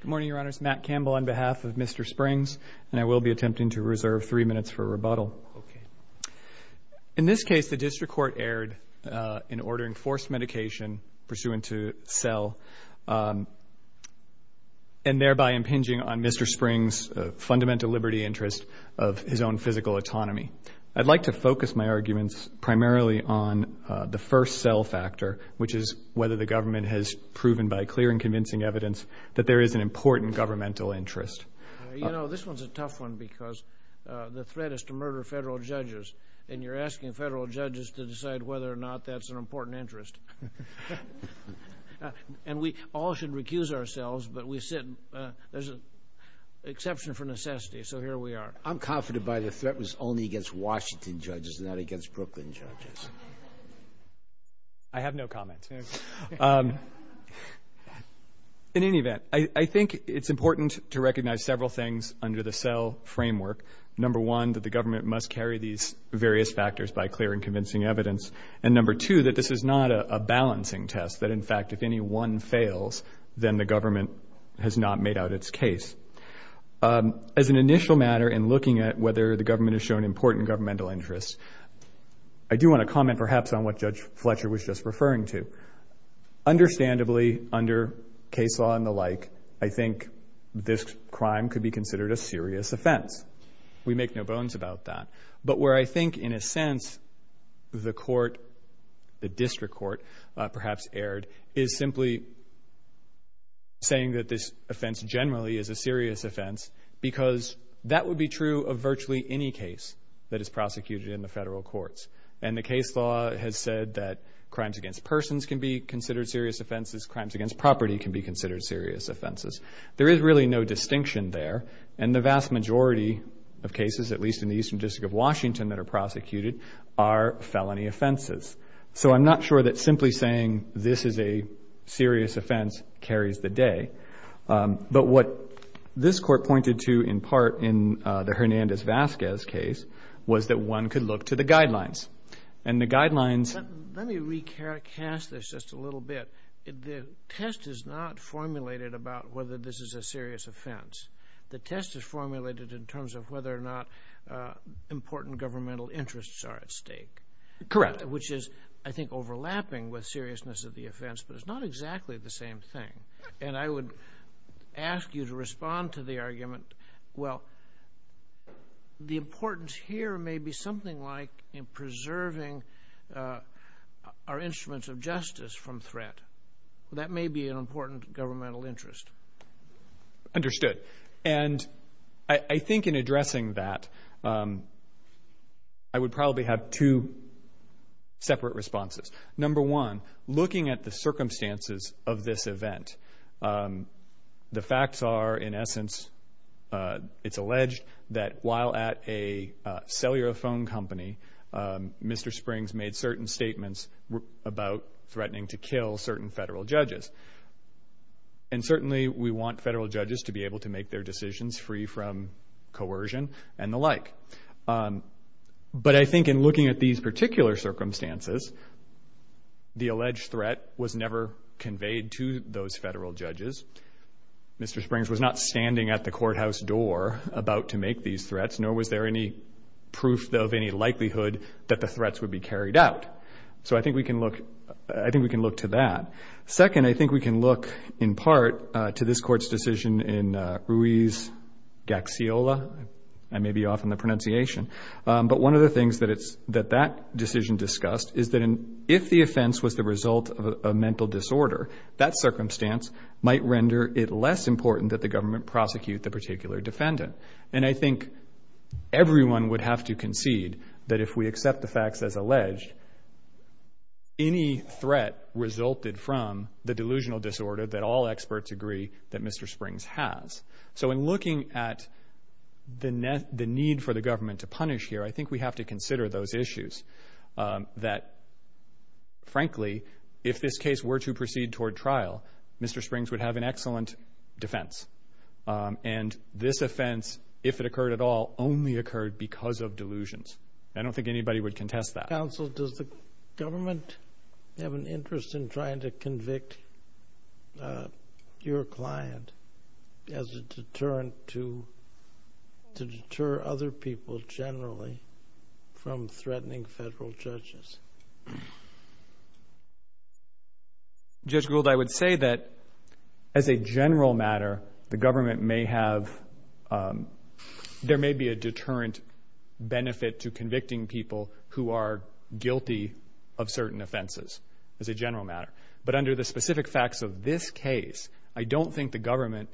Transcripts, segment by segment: Good morning, Your Honors. Matt Campbell on behalf of Mr. Springs, and I will be attempting to reserve three minutes for rebuttal. Okay. In this case, the district court erred in ordering forced medication pursuant to cell and thereby impinging on Mr. Springs' fundamental liberty interest of his own physical autonomy. I'd like to focus my arguments primarily on the first cell factor, which is whether the government has proven by clear and convincing evidence that there is an important governmental interest. You know, this one's a tough one because the threat is to murder federal judges, and you're asking federal judges to decide whether or not that's an important interest. And we all should recuse ourselves, but there's an exception for necessity, so here we are. I'm confident the threat was only against Washington judges and not against Brooklyn judges. I have no comments. In any event, I think it's important to recognize several things under the cell framework. Number one, that the government must carry these various factors by clear and convincing evidence, and number two, that this is not a balancing test, that, in fact, if any one fails, then the government has not made out its case. As an initial matter in looking at whether the government has shown important governmental interest, I do want to comment perhaps on what Judge Fletcher was just referring to. Understandably, under case law and the like, I think this crime could be considered a serious offense. We make no bones about that. But where I think, in a sense, the court, the district court perhaps erred, is simply saying that this offense generally is a serious offense because that would be true of virtually any case that is prosecuted in the federal courts. And the case law has said that crimes against persons can be considered serious offenses, crimes against property can be considered serious offenses. There is really no distinction there, and the vast majority of cases, at least in the Eastern District of Washington that are prosecuted, are felony offenses. So I'm not sure that simply saying this is a serious offense carries the day. But what this court pointed to in part in the Hernandez-Vazquez case was that one could look to the guidelines. And the guidelines... Let me recast this just a little bit. The test is not formulated about whether this is a serious offense. The test is formulated in terms of whether or not important governmental interests are at stake. Correct. Which is, I think, overlapping with seriousness of the offense, but it's not exactly the same thing. And I would ask you to respond to the argument, well, the importance here may be something like in preserving our instruments of justice from threat. That may be an important governmental interest. Understood. And I think in addressing that, I would probably have two separate responses. Number one, looking at the circumstances of this event. The facts are, in essence, it's alleged that while at a cellular phone company, Mr. Springs made certain statements about threatening to kill certain federal judges. And certainly we want federal judges to be able to make their decisions free from coercion and the like. But I think in looking at these particular circumstances, the alleged threat was never conveyed to those federal judges. Mr. Springs was not standing at the courthouse door about to make these threats, nor was there any proof of any likelihood that the threats would be carried out. So I think we can look to that. Second, I think we can look, in part, to this Court's decision in Ruiz-Gaxiola. I may be off on the pronunciation. But one of the things that that decision discussed is that if the offense was the result of a mental disorder, that circumstance might render it less important that the government prosecute the particular defendant. And I think everyone would have to concede that if we accept the facts as alleged, any threat resulted from the delusional disorder that all experts agree that Mr. Springs has. So in looking at the need for the government to punish here, I think we have to consider those issues that, frankly, if this case were to proceed toward trial, Mr. Springs would have an excellent defense. And this offense, if it occurred at all, only occurred because of delusions. I don't think anybody would contest that. Counsel, does the government have an interest in trying to convict your client as a deterrent to deter other people generally from threatening federal judges? Judge Gould, I would say that, as a general matter, the government may have, there may be a deterrent benefit to convicting people who are guilty of certain offenses as a general matter. But under the specific facts of this case, I don't think the government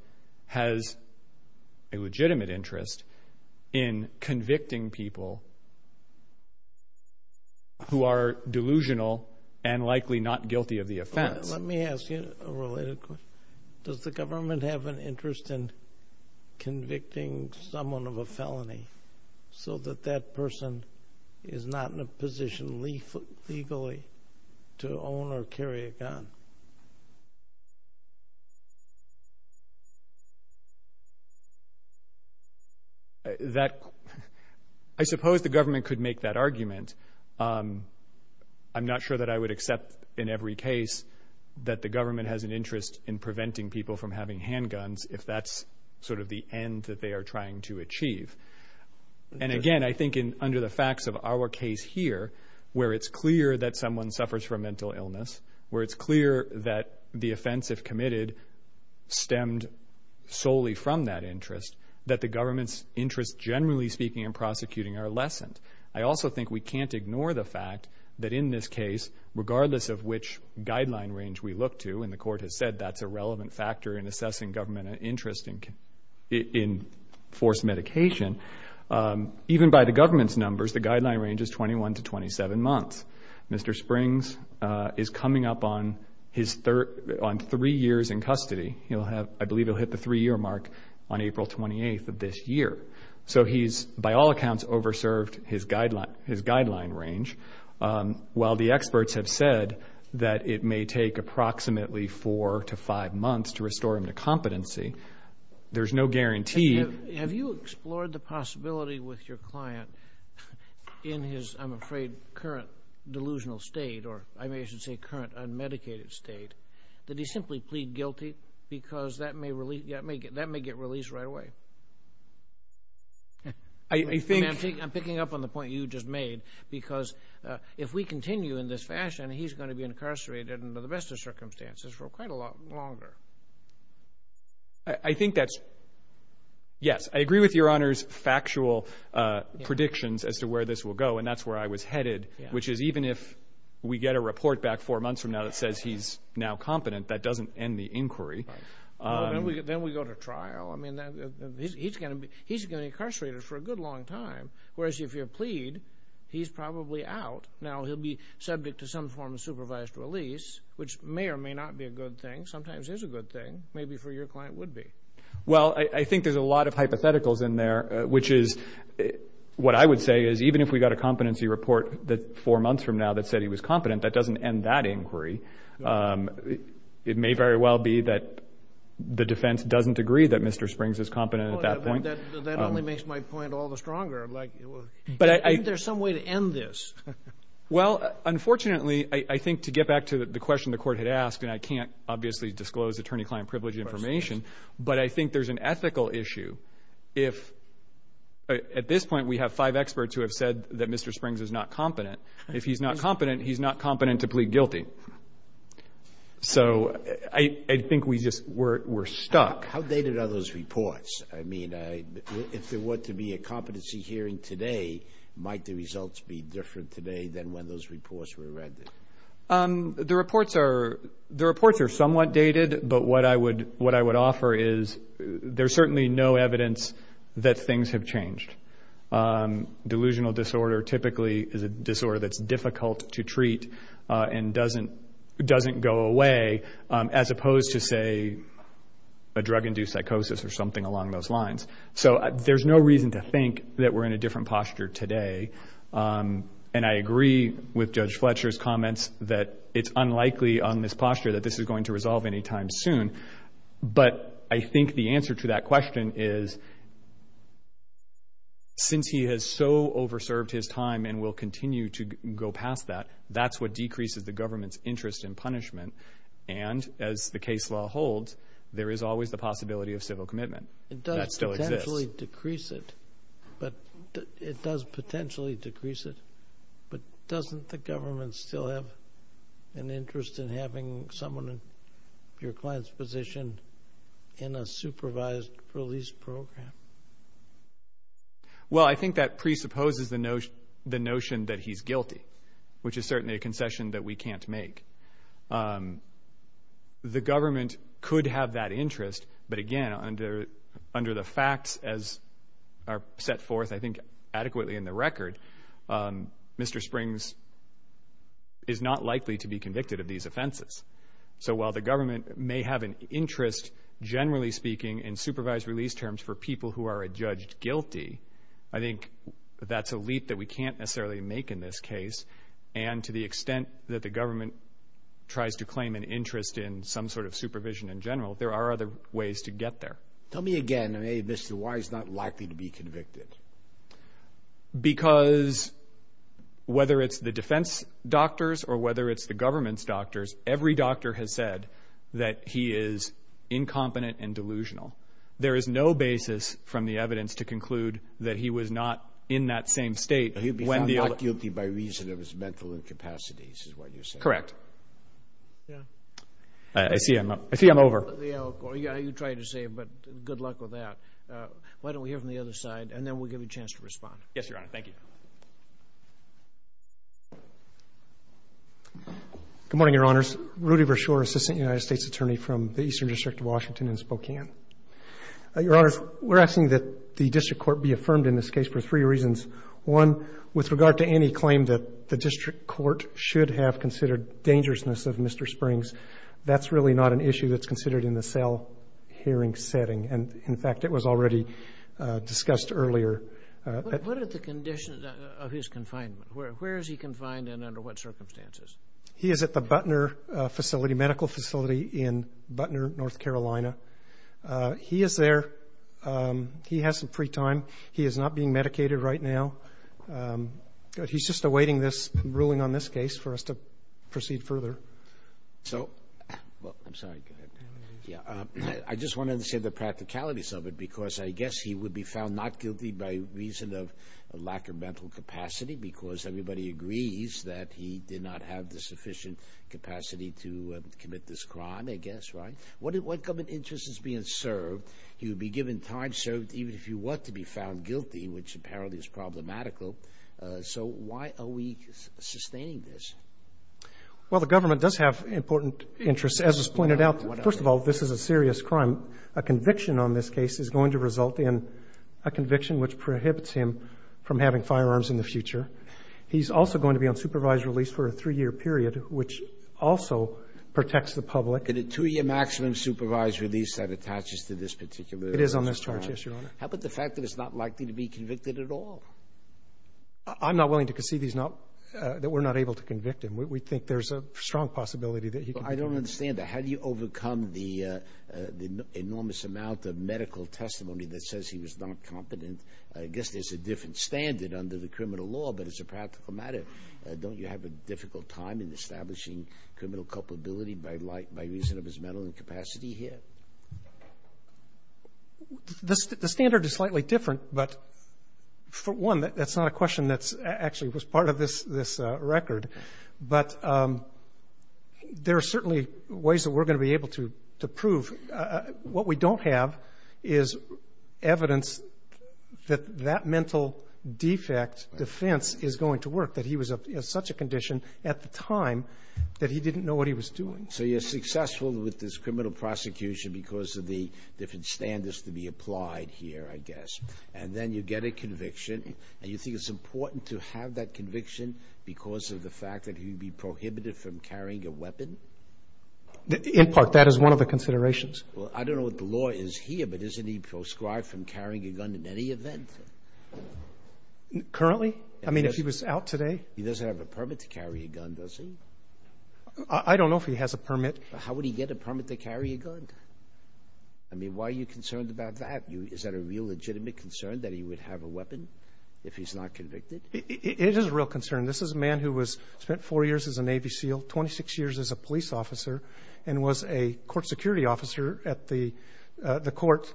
has a legitimate interest in convicting people who are delusional and likely not guilty of the offense. Let me ask you a related question. Does the government have an interest in convicting someone of a felony so that that person is not in a position legally to own or carry a gun? I suppose the government could make that argument. I'm not sure that I would accept in every case that the government has an interest in preventing people from having handguns if that's sort of the end that they are trying to achieve. And, again, I think under the facts of our case here, where it's clear that someone suffers from mental illness, where it's clear that the offense, if committed, stemmed solely from that interest, that the government's interests, generally speaking, in prosecuting are lessened. I also think we can't ignore the fact that in this case, regardless of which guideline range we look to, and the Court has said that's a relevant factor in assessing government interest in forced medication, even by the government's numbers, the guideline range is 21 to 27 months. Mr. Springs is coming up on three years in custody. I believe he'll hit the three-year mark on April 28th of this year. So he's, by all accounts, over-served his guideline range. While the experts have said that it may take approximately four to five months to restore him to competency, there's no guarantee. Have you explored the possibility with your client in his, I'm afraid, current delusional state, or I may as well say current unmedicated state, that he simply plead guilty because that may get released right away? I'm picking up on the point you just made, because if we continue in this fashion, he's going to be incarcerated under the best of circumstances for quite a lot longer. Yes, I agree with Your Honor's factual predictions as to where this will go, and that's where I was headed, which is even if we get a report back four months from now that says he's now competent, that doesn't end the inquiry. Then we go to trial. I mean, he's going to be incarcerated for a good long time, whereas if you plead, he's probably out. Now he'll be subject to some form of supervised release, which may or may not be a good thing. Sometimes it is a good thing. Maybe for your client, it would be. Well, I think there's a lot of hypotheticals in there, which is what I would say is even if we got a competency report four months from now that said he was competent, that doesn't end that inquiry. It may very well be that the defense doesn't agree that Mr. Springs is competent at that point. That only makes my point all the stronger. Isn't there some way to end this? Well, unfortunately, I think to get back to the question the Court had asked, and I can't obviously disclose attorney-client privilege information, but I think there's an ethical issue. At this point, we have five experts who have said that Mr. Springs is not competent. If he's not competent, he's not competent to plead guilty. So I think we're stuck. How dated are those reports? I mean, if there were to be a competency hearing today, might the results be different today than when those reports were rendered? The reports are somewhat dated, but what I would offer is there's certainly no evidence that things have changed. Delusional disorder typically is a disorder that's difficult to treat and doesn't go away, as opposed to, say, a drug-induced psychosis or something along those lines. So there's no reason to think that we're in a different posture today, and I agree with Judge Fletcher's comments that it's unlikely on this posture that this is going to resolve any time soon. But I think the answer to that question is since he has so over-served his time and will continue to go past that, that's what decreases the government's interest in punishment. And as the case law holds, there is always the possibility of civil commitment. And that still exists. It does potentially decrease it. But it does potentially decrease it. But doesn't the government still have an interest in having someone in your client's position in a supervised release program? Well, I think that presupposes the notion that he's guilty, which is certainly a concession that we can't make. The government could have that interest, but, again, under the facts as are set forth, I think, adequately in the record, Mr. Springs is not likely to be convicted of these offenses. So while the government may have an interest, generally speaking, in supervised release terms for people who are judged guilty, I think that's a leap that we can't necessarily make in this case. And to the extent that the government tries to claim an interest in some sort of supervision in general, there are other ways to get there. Tell me again why he's not likely to be convicted. Because whether it's the defense doctors or whether it's the government's doctors, every doctor has said that he is incompetent and delusional. There is no basis from the evidence to conclude that he was not in that same state. He'll be found not guilty by reason of his mental incapacities is what you're saying. Correct. Yeah. I see I'm over. Yeah, you tried to save, but good luck with that. Why don't we hear from the other side, and then we'll give you a chance to respond. Yes, Your Honor. Thank you. Good morning, Your Honors. Rudy Vershoor, Assistant United States Attorney from the Eastern District of Washington in Spokane. Your Honors, we're asking that the district court be affirmed in this case for three reasons. One, with regard to any claim that the district court should have considered dangerousness of Mr. Springs, that's really not an issue that's considered in the cell hearing setting. And, in fact, it was already discussed earlier. What are the conditions of his confinement? Where is he confined and under what circumstances? He is at the Butner facility, medical facility in Butner, North Carolina. He is there. He has some free time. He is not being medicated right now. He's just awaiting this ruling on this case for us to proceed further. So, I'm sorry, go ahead. I just wanted to say the practicalities of it because I guess he would be found not guilty by reason of lack of mental capacity because everybody agrees that he did not have the sufficient capacity to commit this crime, I guess, right? What government interest is being served? He would be given time served even if he were to be found guilty, which apparently is problematical. So why are we sustaining this? Well, the government does have important interests, as is pointed out. First of all, this is a serious crime. A conviction on this case is going to result in a conviction which prohibits him from having firearms in the future. He's also going to be on supervised release for a three-year period, which also protects the public. Can a two-year maximum supervised release that attaches to this particular crime? It is on this charge, yes, Your Honor. How about the fact that it's not likely to be convicted at all? I'm not willing to concede that we're not able to convict him. We think there's a strong possibility that he could be convicted. I don't understand that. How do you overcome the enormous amount of medical testimony that says he was not competent? I guess there's a different standard under the criminal law, but it's a practical matter. Don't you have a difficult time in establishing criminal culpability by reason of his mental incapacity here? The standard is slightly different, but, for one, that's not a question that actually was part of this record. But there are certainly ways that we're going to be able to prove. What we don't have is evidence that that mental defect defense is going to work, that he was in such a condition at the time that he didn't know what he was doing. So you're successful with this criminal prosecution because of the different standards to be applied here, I guess. And then you get a conviction, and you think it's important to have that conviction because of the fact that he would be prohibited from carrying a weapon? In part. That is one of the considerations. Well, I don't know what the law is here, but isn't he proscribed from carrying a gun in any event? Currently? I mean, if he was out today? He doesn't have a permit to carry a gun, does he? I don't know if he has a permit. How would he get a permit to carry a gun? I mean, why are you concerned about that? Is that a real legitimate concern, that he would have a weapon if he's not convicted? It is a real concern. This is a man who spent four years as a Navy SEAL, 26 years as a police officer, and was a court security officer at the court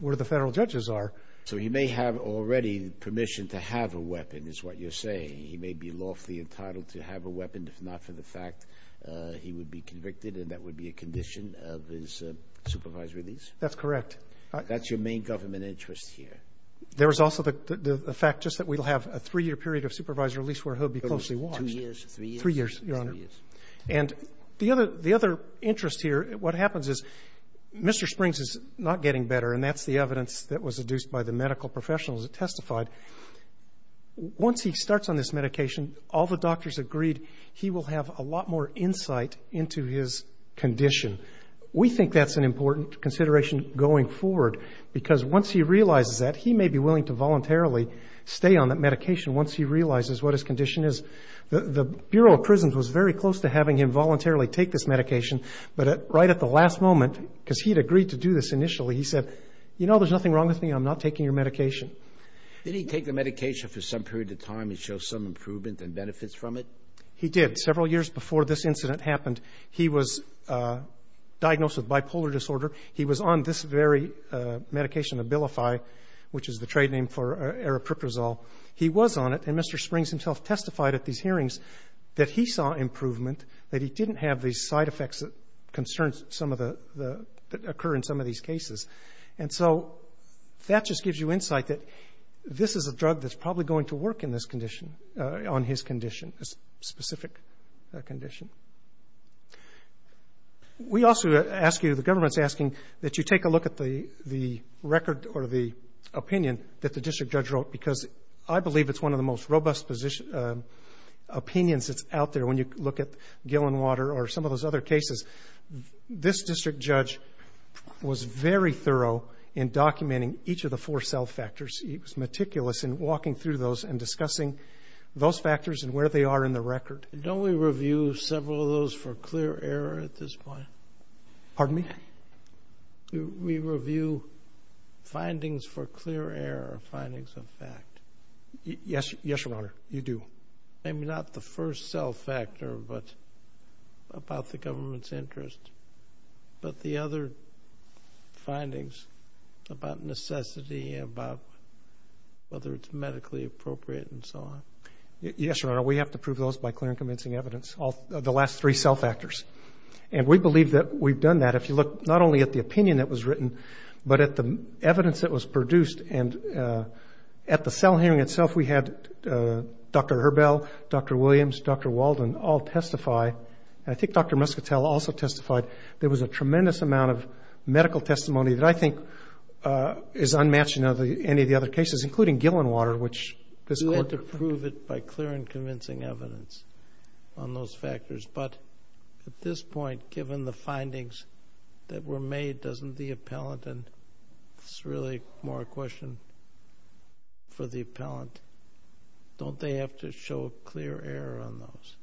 where the federal judges are. So he may have already permission to have a weapon is what you're saying. He may be lawfully entitled to have a weapon if not for the fact he would be convicted, and that would be a condition of his supervised release? That's correct. That's your main government interest here? There is also the fact just that we'll have a three-year period of supervised release where he'll be closely watched. Two years? Three years? Three years, Your Honor. And the other interest here, what happens is Mr. Springs is not getting better, and that's the evidence that was adduced by the medical professionals that testified. Once he starts on this medication, all the doctors agreed he will have a lot more insight into his condition. We think that's an important consideration going forward, because once he realizes that, he may be willing to voluntarily stay on that medication once he realizes what his condition is. The Bureau of Prisons was very close to having him voluntarily take this medication, but right at the last moment, because he had agreed to do this initially, he said, you know, there's nothing wrong with me. I'm not taking your medication. Did he take the medication for some period of time and show some improvement and benefits from it? He did. Several years before this incident happened, he was diagnosed with bipolar disorder. He was on this very medication, Abilify, which is the trade name for aripiprazole. He was on it, and Mr. Springs himself testified at these hearings that he saw improvement, that he didn't have these side effects that occur in some of these cases. And so that just gives you insight that this is a drug that's probably going to work on his condition, a specific condition. We also ask you, the government's asking that you take a look at the record or the opinion that the district judge wrote, because I believe it's one of the most robust opinions that's out there. When you look at Gil and Water or some of those other cases, this district judge was very thorough in documenting each of the four self-factors. He was meticulous in walking through those and discussing those factors and where they are in the record. Don't we review several of those for clear error at this point? Pardon me? We review findings for clear error, findings of fact. Yes, Your Honor, you do. Maybe not the first self-factor, but about the government's interest, but the other findings about necessity, about whether it's medically appropriate and so on. Yes, Your Honor, we have to prove those by clear and convincing evidence, the last three self-factors. And we believe that we've done that. If you look not only at the opinion that was written, but at the evidence that was produced and at the cell hearing itself we had Dr. Herbell, Dr. Williams, Dr. Walden all testify. I think Dr. Muscatel also testified. There was a tremendous amount of medical testimony that I think is unmatched in any of the other cases, including Gil and Water, which this Court approved. We prove it by clear and convincing evidence on those factors. But at this point, given the findings that were made, doesn't the appellant, and this is really more a question for the appellant, don't they have to show clear error on those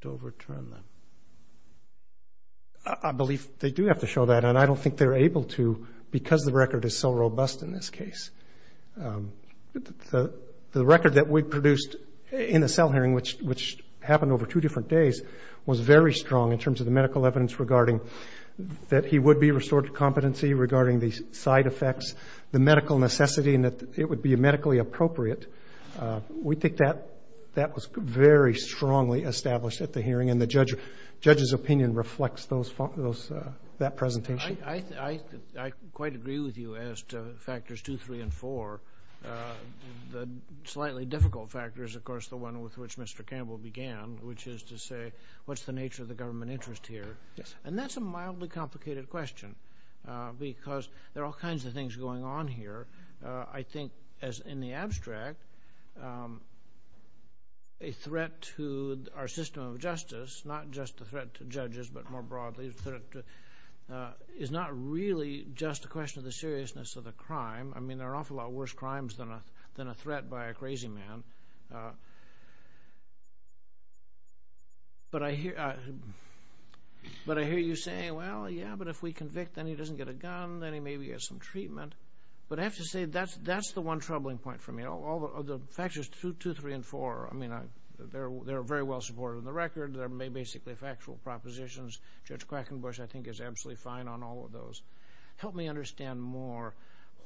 to overturn them? I believe they do have to show that, and I don't think they're able to because the record is so robust in this case. The record that we produced in the cell hearing, which happened over two different days, was very strong in terms of the medical evidence regarding that he would be restored to competency, regarding the side effects, the medical necessity, and that it would be medically appropriate. We think that was very strongly established at the hearing, and the judge's opinion reflects that presentation. I quite agree with you as to factors two, three, and four. The slightly difficult factor is, of course, the one with which Mr. Campbell began, which is to say what's the nature of the government interest here, and that's a mildly complicated question because there are all kinds of things going on here. I think, as in the abstract, a threat to our system of justice, not just a threat to judges but more broadly, is not really just a question of the seriousness of the crime. I mean, there are an awful lot worse crimes than a threat by a crazy man. But I hear you say, well, yeah, but if we convict, then he doesn't get a gun, then he maybe gets some treatment. But I have to say that's the one troubling point for me. All the factors two, three, and four, I mean, they're very well supported in the record. They're basically factual propositions. Judge Quackenbush, I think, is absolutely fine on all of those. Help me understand more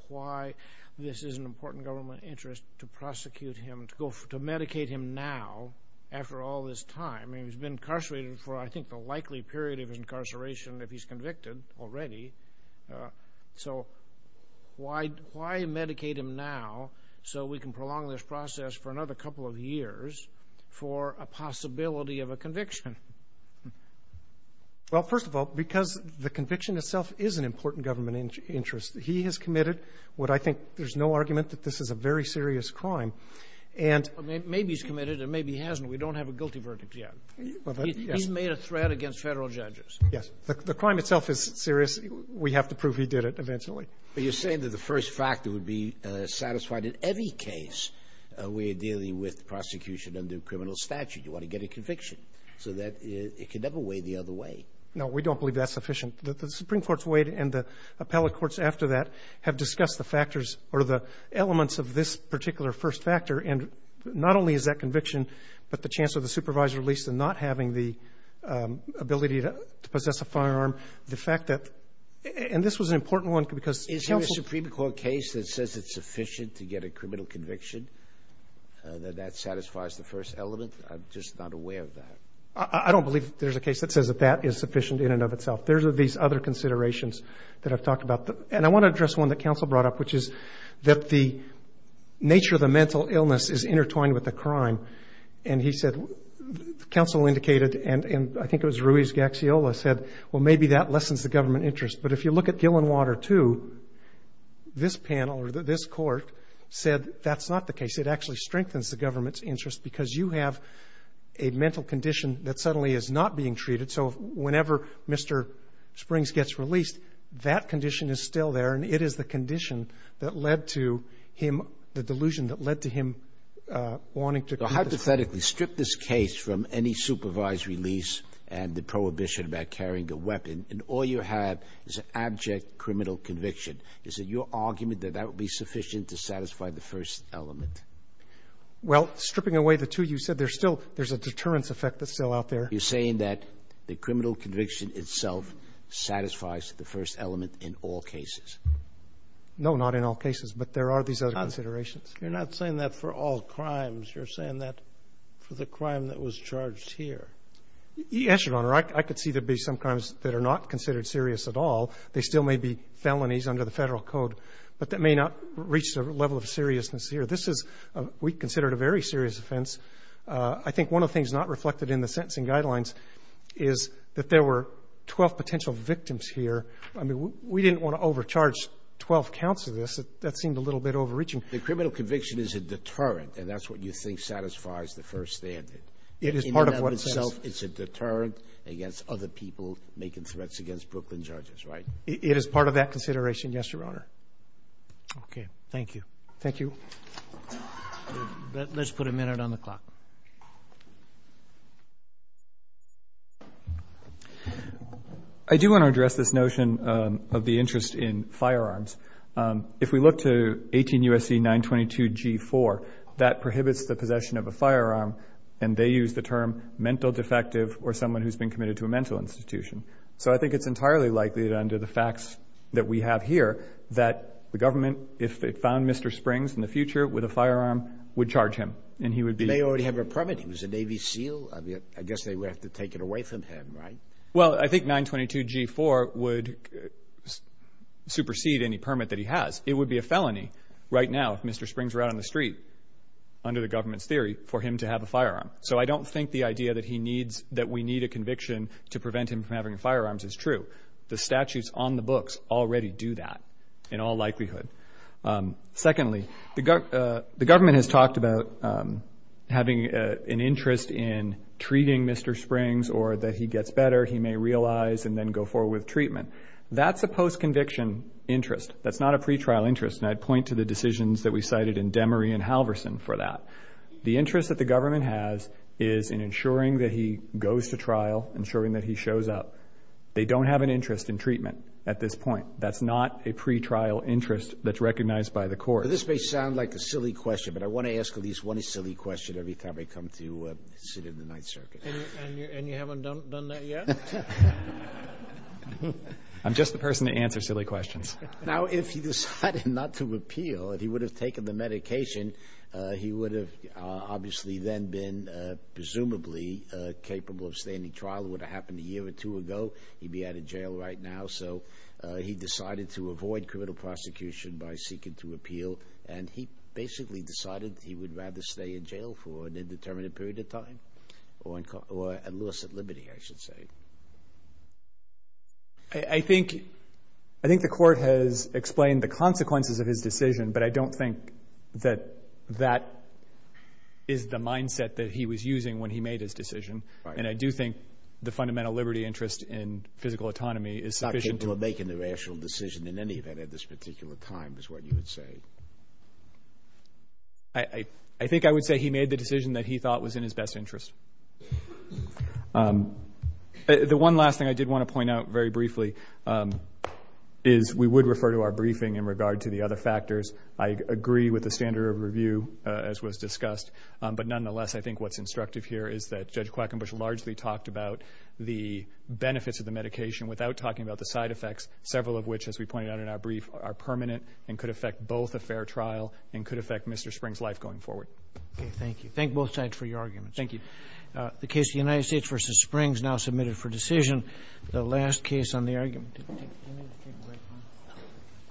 why this is an important government interest to prosecute him, to medicate him now after all this time. I mean, he's been incarcerated for, I think, the likely period of his incarceration if he's convicted already. So why medicate him now so we can prolong this process for another couple of years for a possibility of a conviction? Well, first of all, because the conviction itself is an important government interest. He has committed what I think there's no argument that this is a very serious crime. And — Maybe he's committed and maybe he hasn't. We don't have a guilty verdict yet. Yes. He's made a threat against Federal judges. Yes. The crime itself is serious. We have to prove he did it eventually. But you're saying that the first factor would be satisfied in any case where you're dealing with prosecution under criminal statute. You want to get a conviction so that it can never wade the other way. No, we don't believe that's sufficient. The Supreme Court's weight and the appellate courts after that have discussed the factors or the elements of this particular first factor. And not only is that conviction, but the chance of the supervisor at least in not having the ability to possess a firearm, the fact that — and this was an important one because counsel — that that satisfies the first element. I'm just not aware of that. I don't believe there's a case that says that that is sufficient in and of itself. There's these other considerations that I've talked about. And I want to address one that counsel brought up, which is that the nature of the mental illness is intertwined with the crime. And he said counsel indicated, and I think it was Ruiz-Gaxiola said, well, maybe that lessens the government interest. But if you look at Gillenwater II, this panel or this court said that's not the case. It actually strengthens the government's interest because you have a mental condition that suddenly is not being treated. So whenever Mr. Springs gets released, that condition is still there, and it is the condition that led to him — the delusion that led to him wanting to — So hypothetically, strip this case from any supervisory lease and the prohibition about carrying a weapon, and all you have is an abject criminal conviction. Is it your argument that that would be sufficient to satisfy the first element? Well, stripping away the two you said, there's still — there's a deterrence effect that's still out there. You're saying that the criminal conviction itself satisfies the first element in all cases? No, not in all cases. But there are these other considerations. You're not saying that for all crimes. You're saying that for the crime that was charged here. Yes, Your Honor. I could see there'd be some crimes that are not considered serious at all. They still may be felonies under the Federal Code, but that may not reach the level of seriousness here. This is — we consider it a very serious offense. I think one of the things not reflected in the sentencing guidelines is that there were 12 potential victims here. I mean, we didn't want to overcharge 12 counts of this. That seemed a little bit overreaching. The criminal conviction is a deterrent, and that's what you think satisfies the first standard. It is part of what — It's a deterrent against other people making threats against Brooklyn judges, right? It is part of that consideration, yes, Your Honor. Okay. Thank you. Thank you. Let's put a minute on the clock. I do want to address this notion of the interest in firearms. If we look to 18 U.S.C. 922G4, that prohibits the possession of a firearm, and they use the term mental defective or someone who's been committed to a mental institution. So I think it's entirely likely that under the facts that we have here that the government, if it found Mr. Springs in the future with a firearm, would charge him, and he would be — He may already have a permit. He was a Navy SEAL. I mean, I guess they would have to take it away from him, right? Well, I think 922G4 would supersede any permit that he has. It would be a felony right now if Mr. Springs were out on the street, under the government's theory, for him to have a firearm. So I don't think the idea that we need a conviction to prevent him from having firearms is true. The statutes on the books already do that in all likelihood. Secondly, the government has talked about having an interest in treating Mr. Springs or that he gets better, he may realize, and then go forward with treatment. That's a post-conviction interest. That's not a pretrial interest. And I'd point to the decisions that we cited in Demery and Halverson for that. The interest that the government has is in ensuring that he goes to trial, ensuring that he shows up. They don't have an interest in treatment at this point. That's not a pretrial interest that's recognized by the court. This may sound like a silly question, but I want to ask at least one silly question every time I come to sit in the Ninth Circuit. And you haven't done that yet? I'm just the person to answer silly questions. Now, if he decided not to appeal, if he would have taken the medication, he would have obviously then been presumably capable of standing trial. It would have happened a year or two ago. He'd be out of jail right now. So he decided to avoid criminal prosecution by seeking to appeal. And he basically decided he would rather stay in jail for an indeterminate period of time or at loss at liberty, I should say. I think the court has explained the consequences of his decision, but I don't think that that is the mindset that he was using when he made his decision. And I do think the fundamental liberty interest in physical autonomy is sufficient to Not that people are making the rational decision in any event at this particular time, is what you would say. I think I would say he made the decision that he thought was in his best interest. The one last thing I did want to point out very briefly is we would refer to our briefing in regard to the other factors. I agree with the standard of review, as was discussed. But nonetheless, I think what's instructive here is that Judge Quackenbush largely talked about the benefits of the medication without talking about the side effects, several of which, as we pointed out in our brief, are permanent and could affect both a fair trial and could affect Mr. Spring's life going forward. Okay, thank you. Thank both sides for your arguments. Thank you. The case of the United States v. Springs now submitted for decision. The last case on the argument.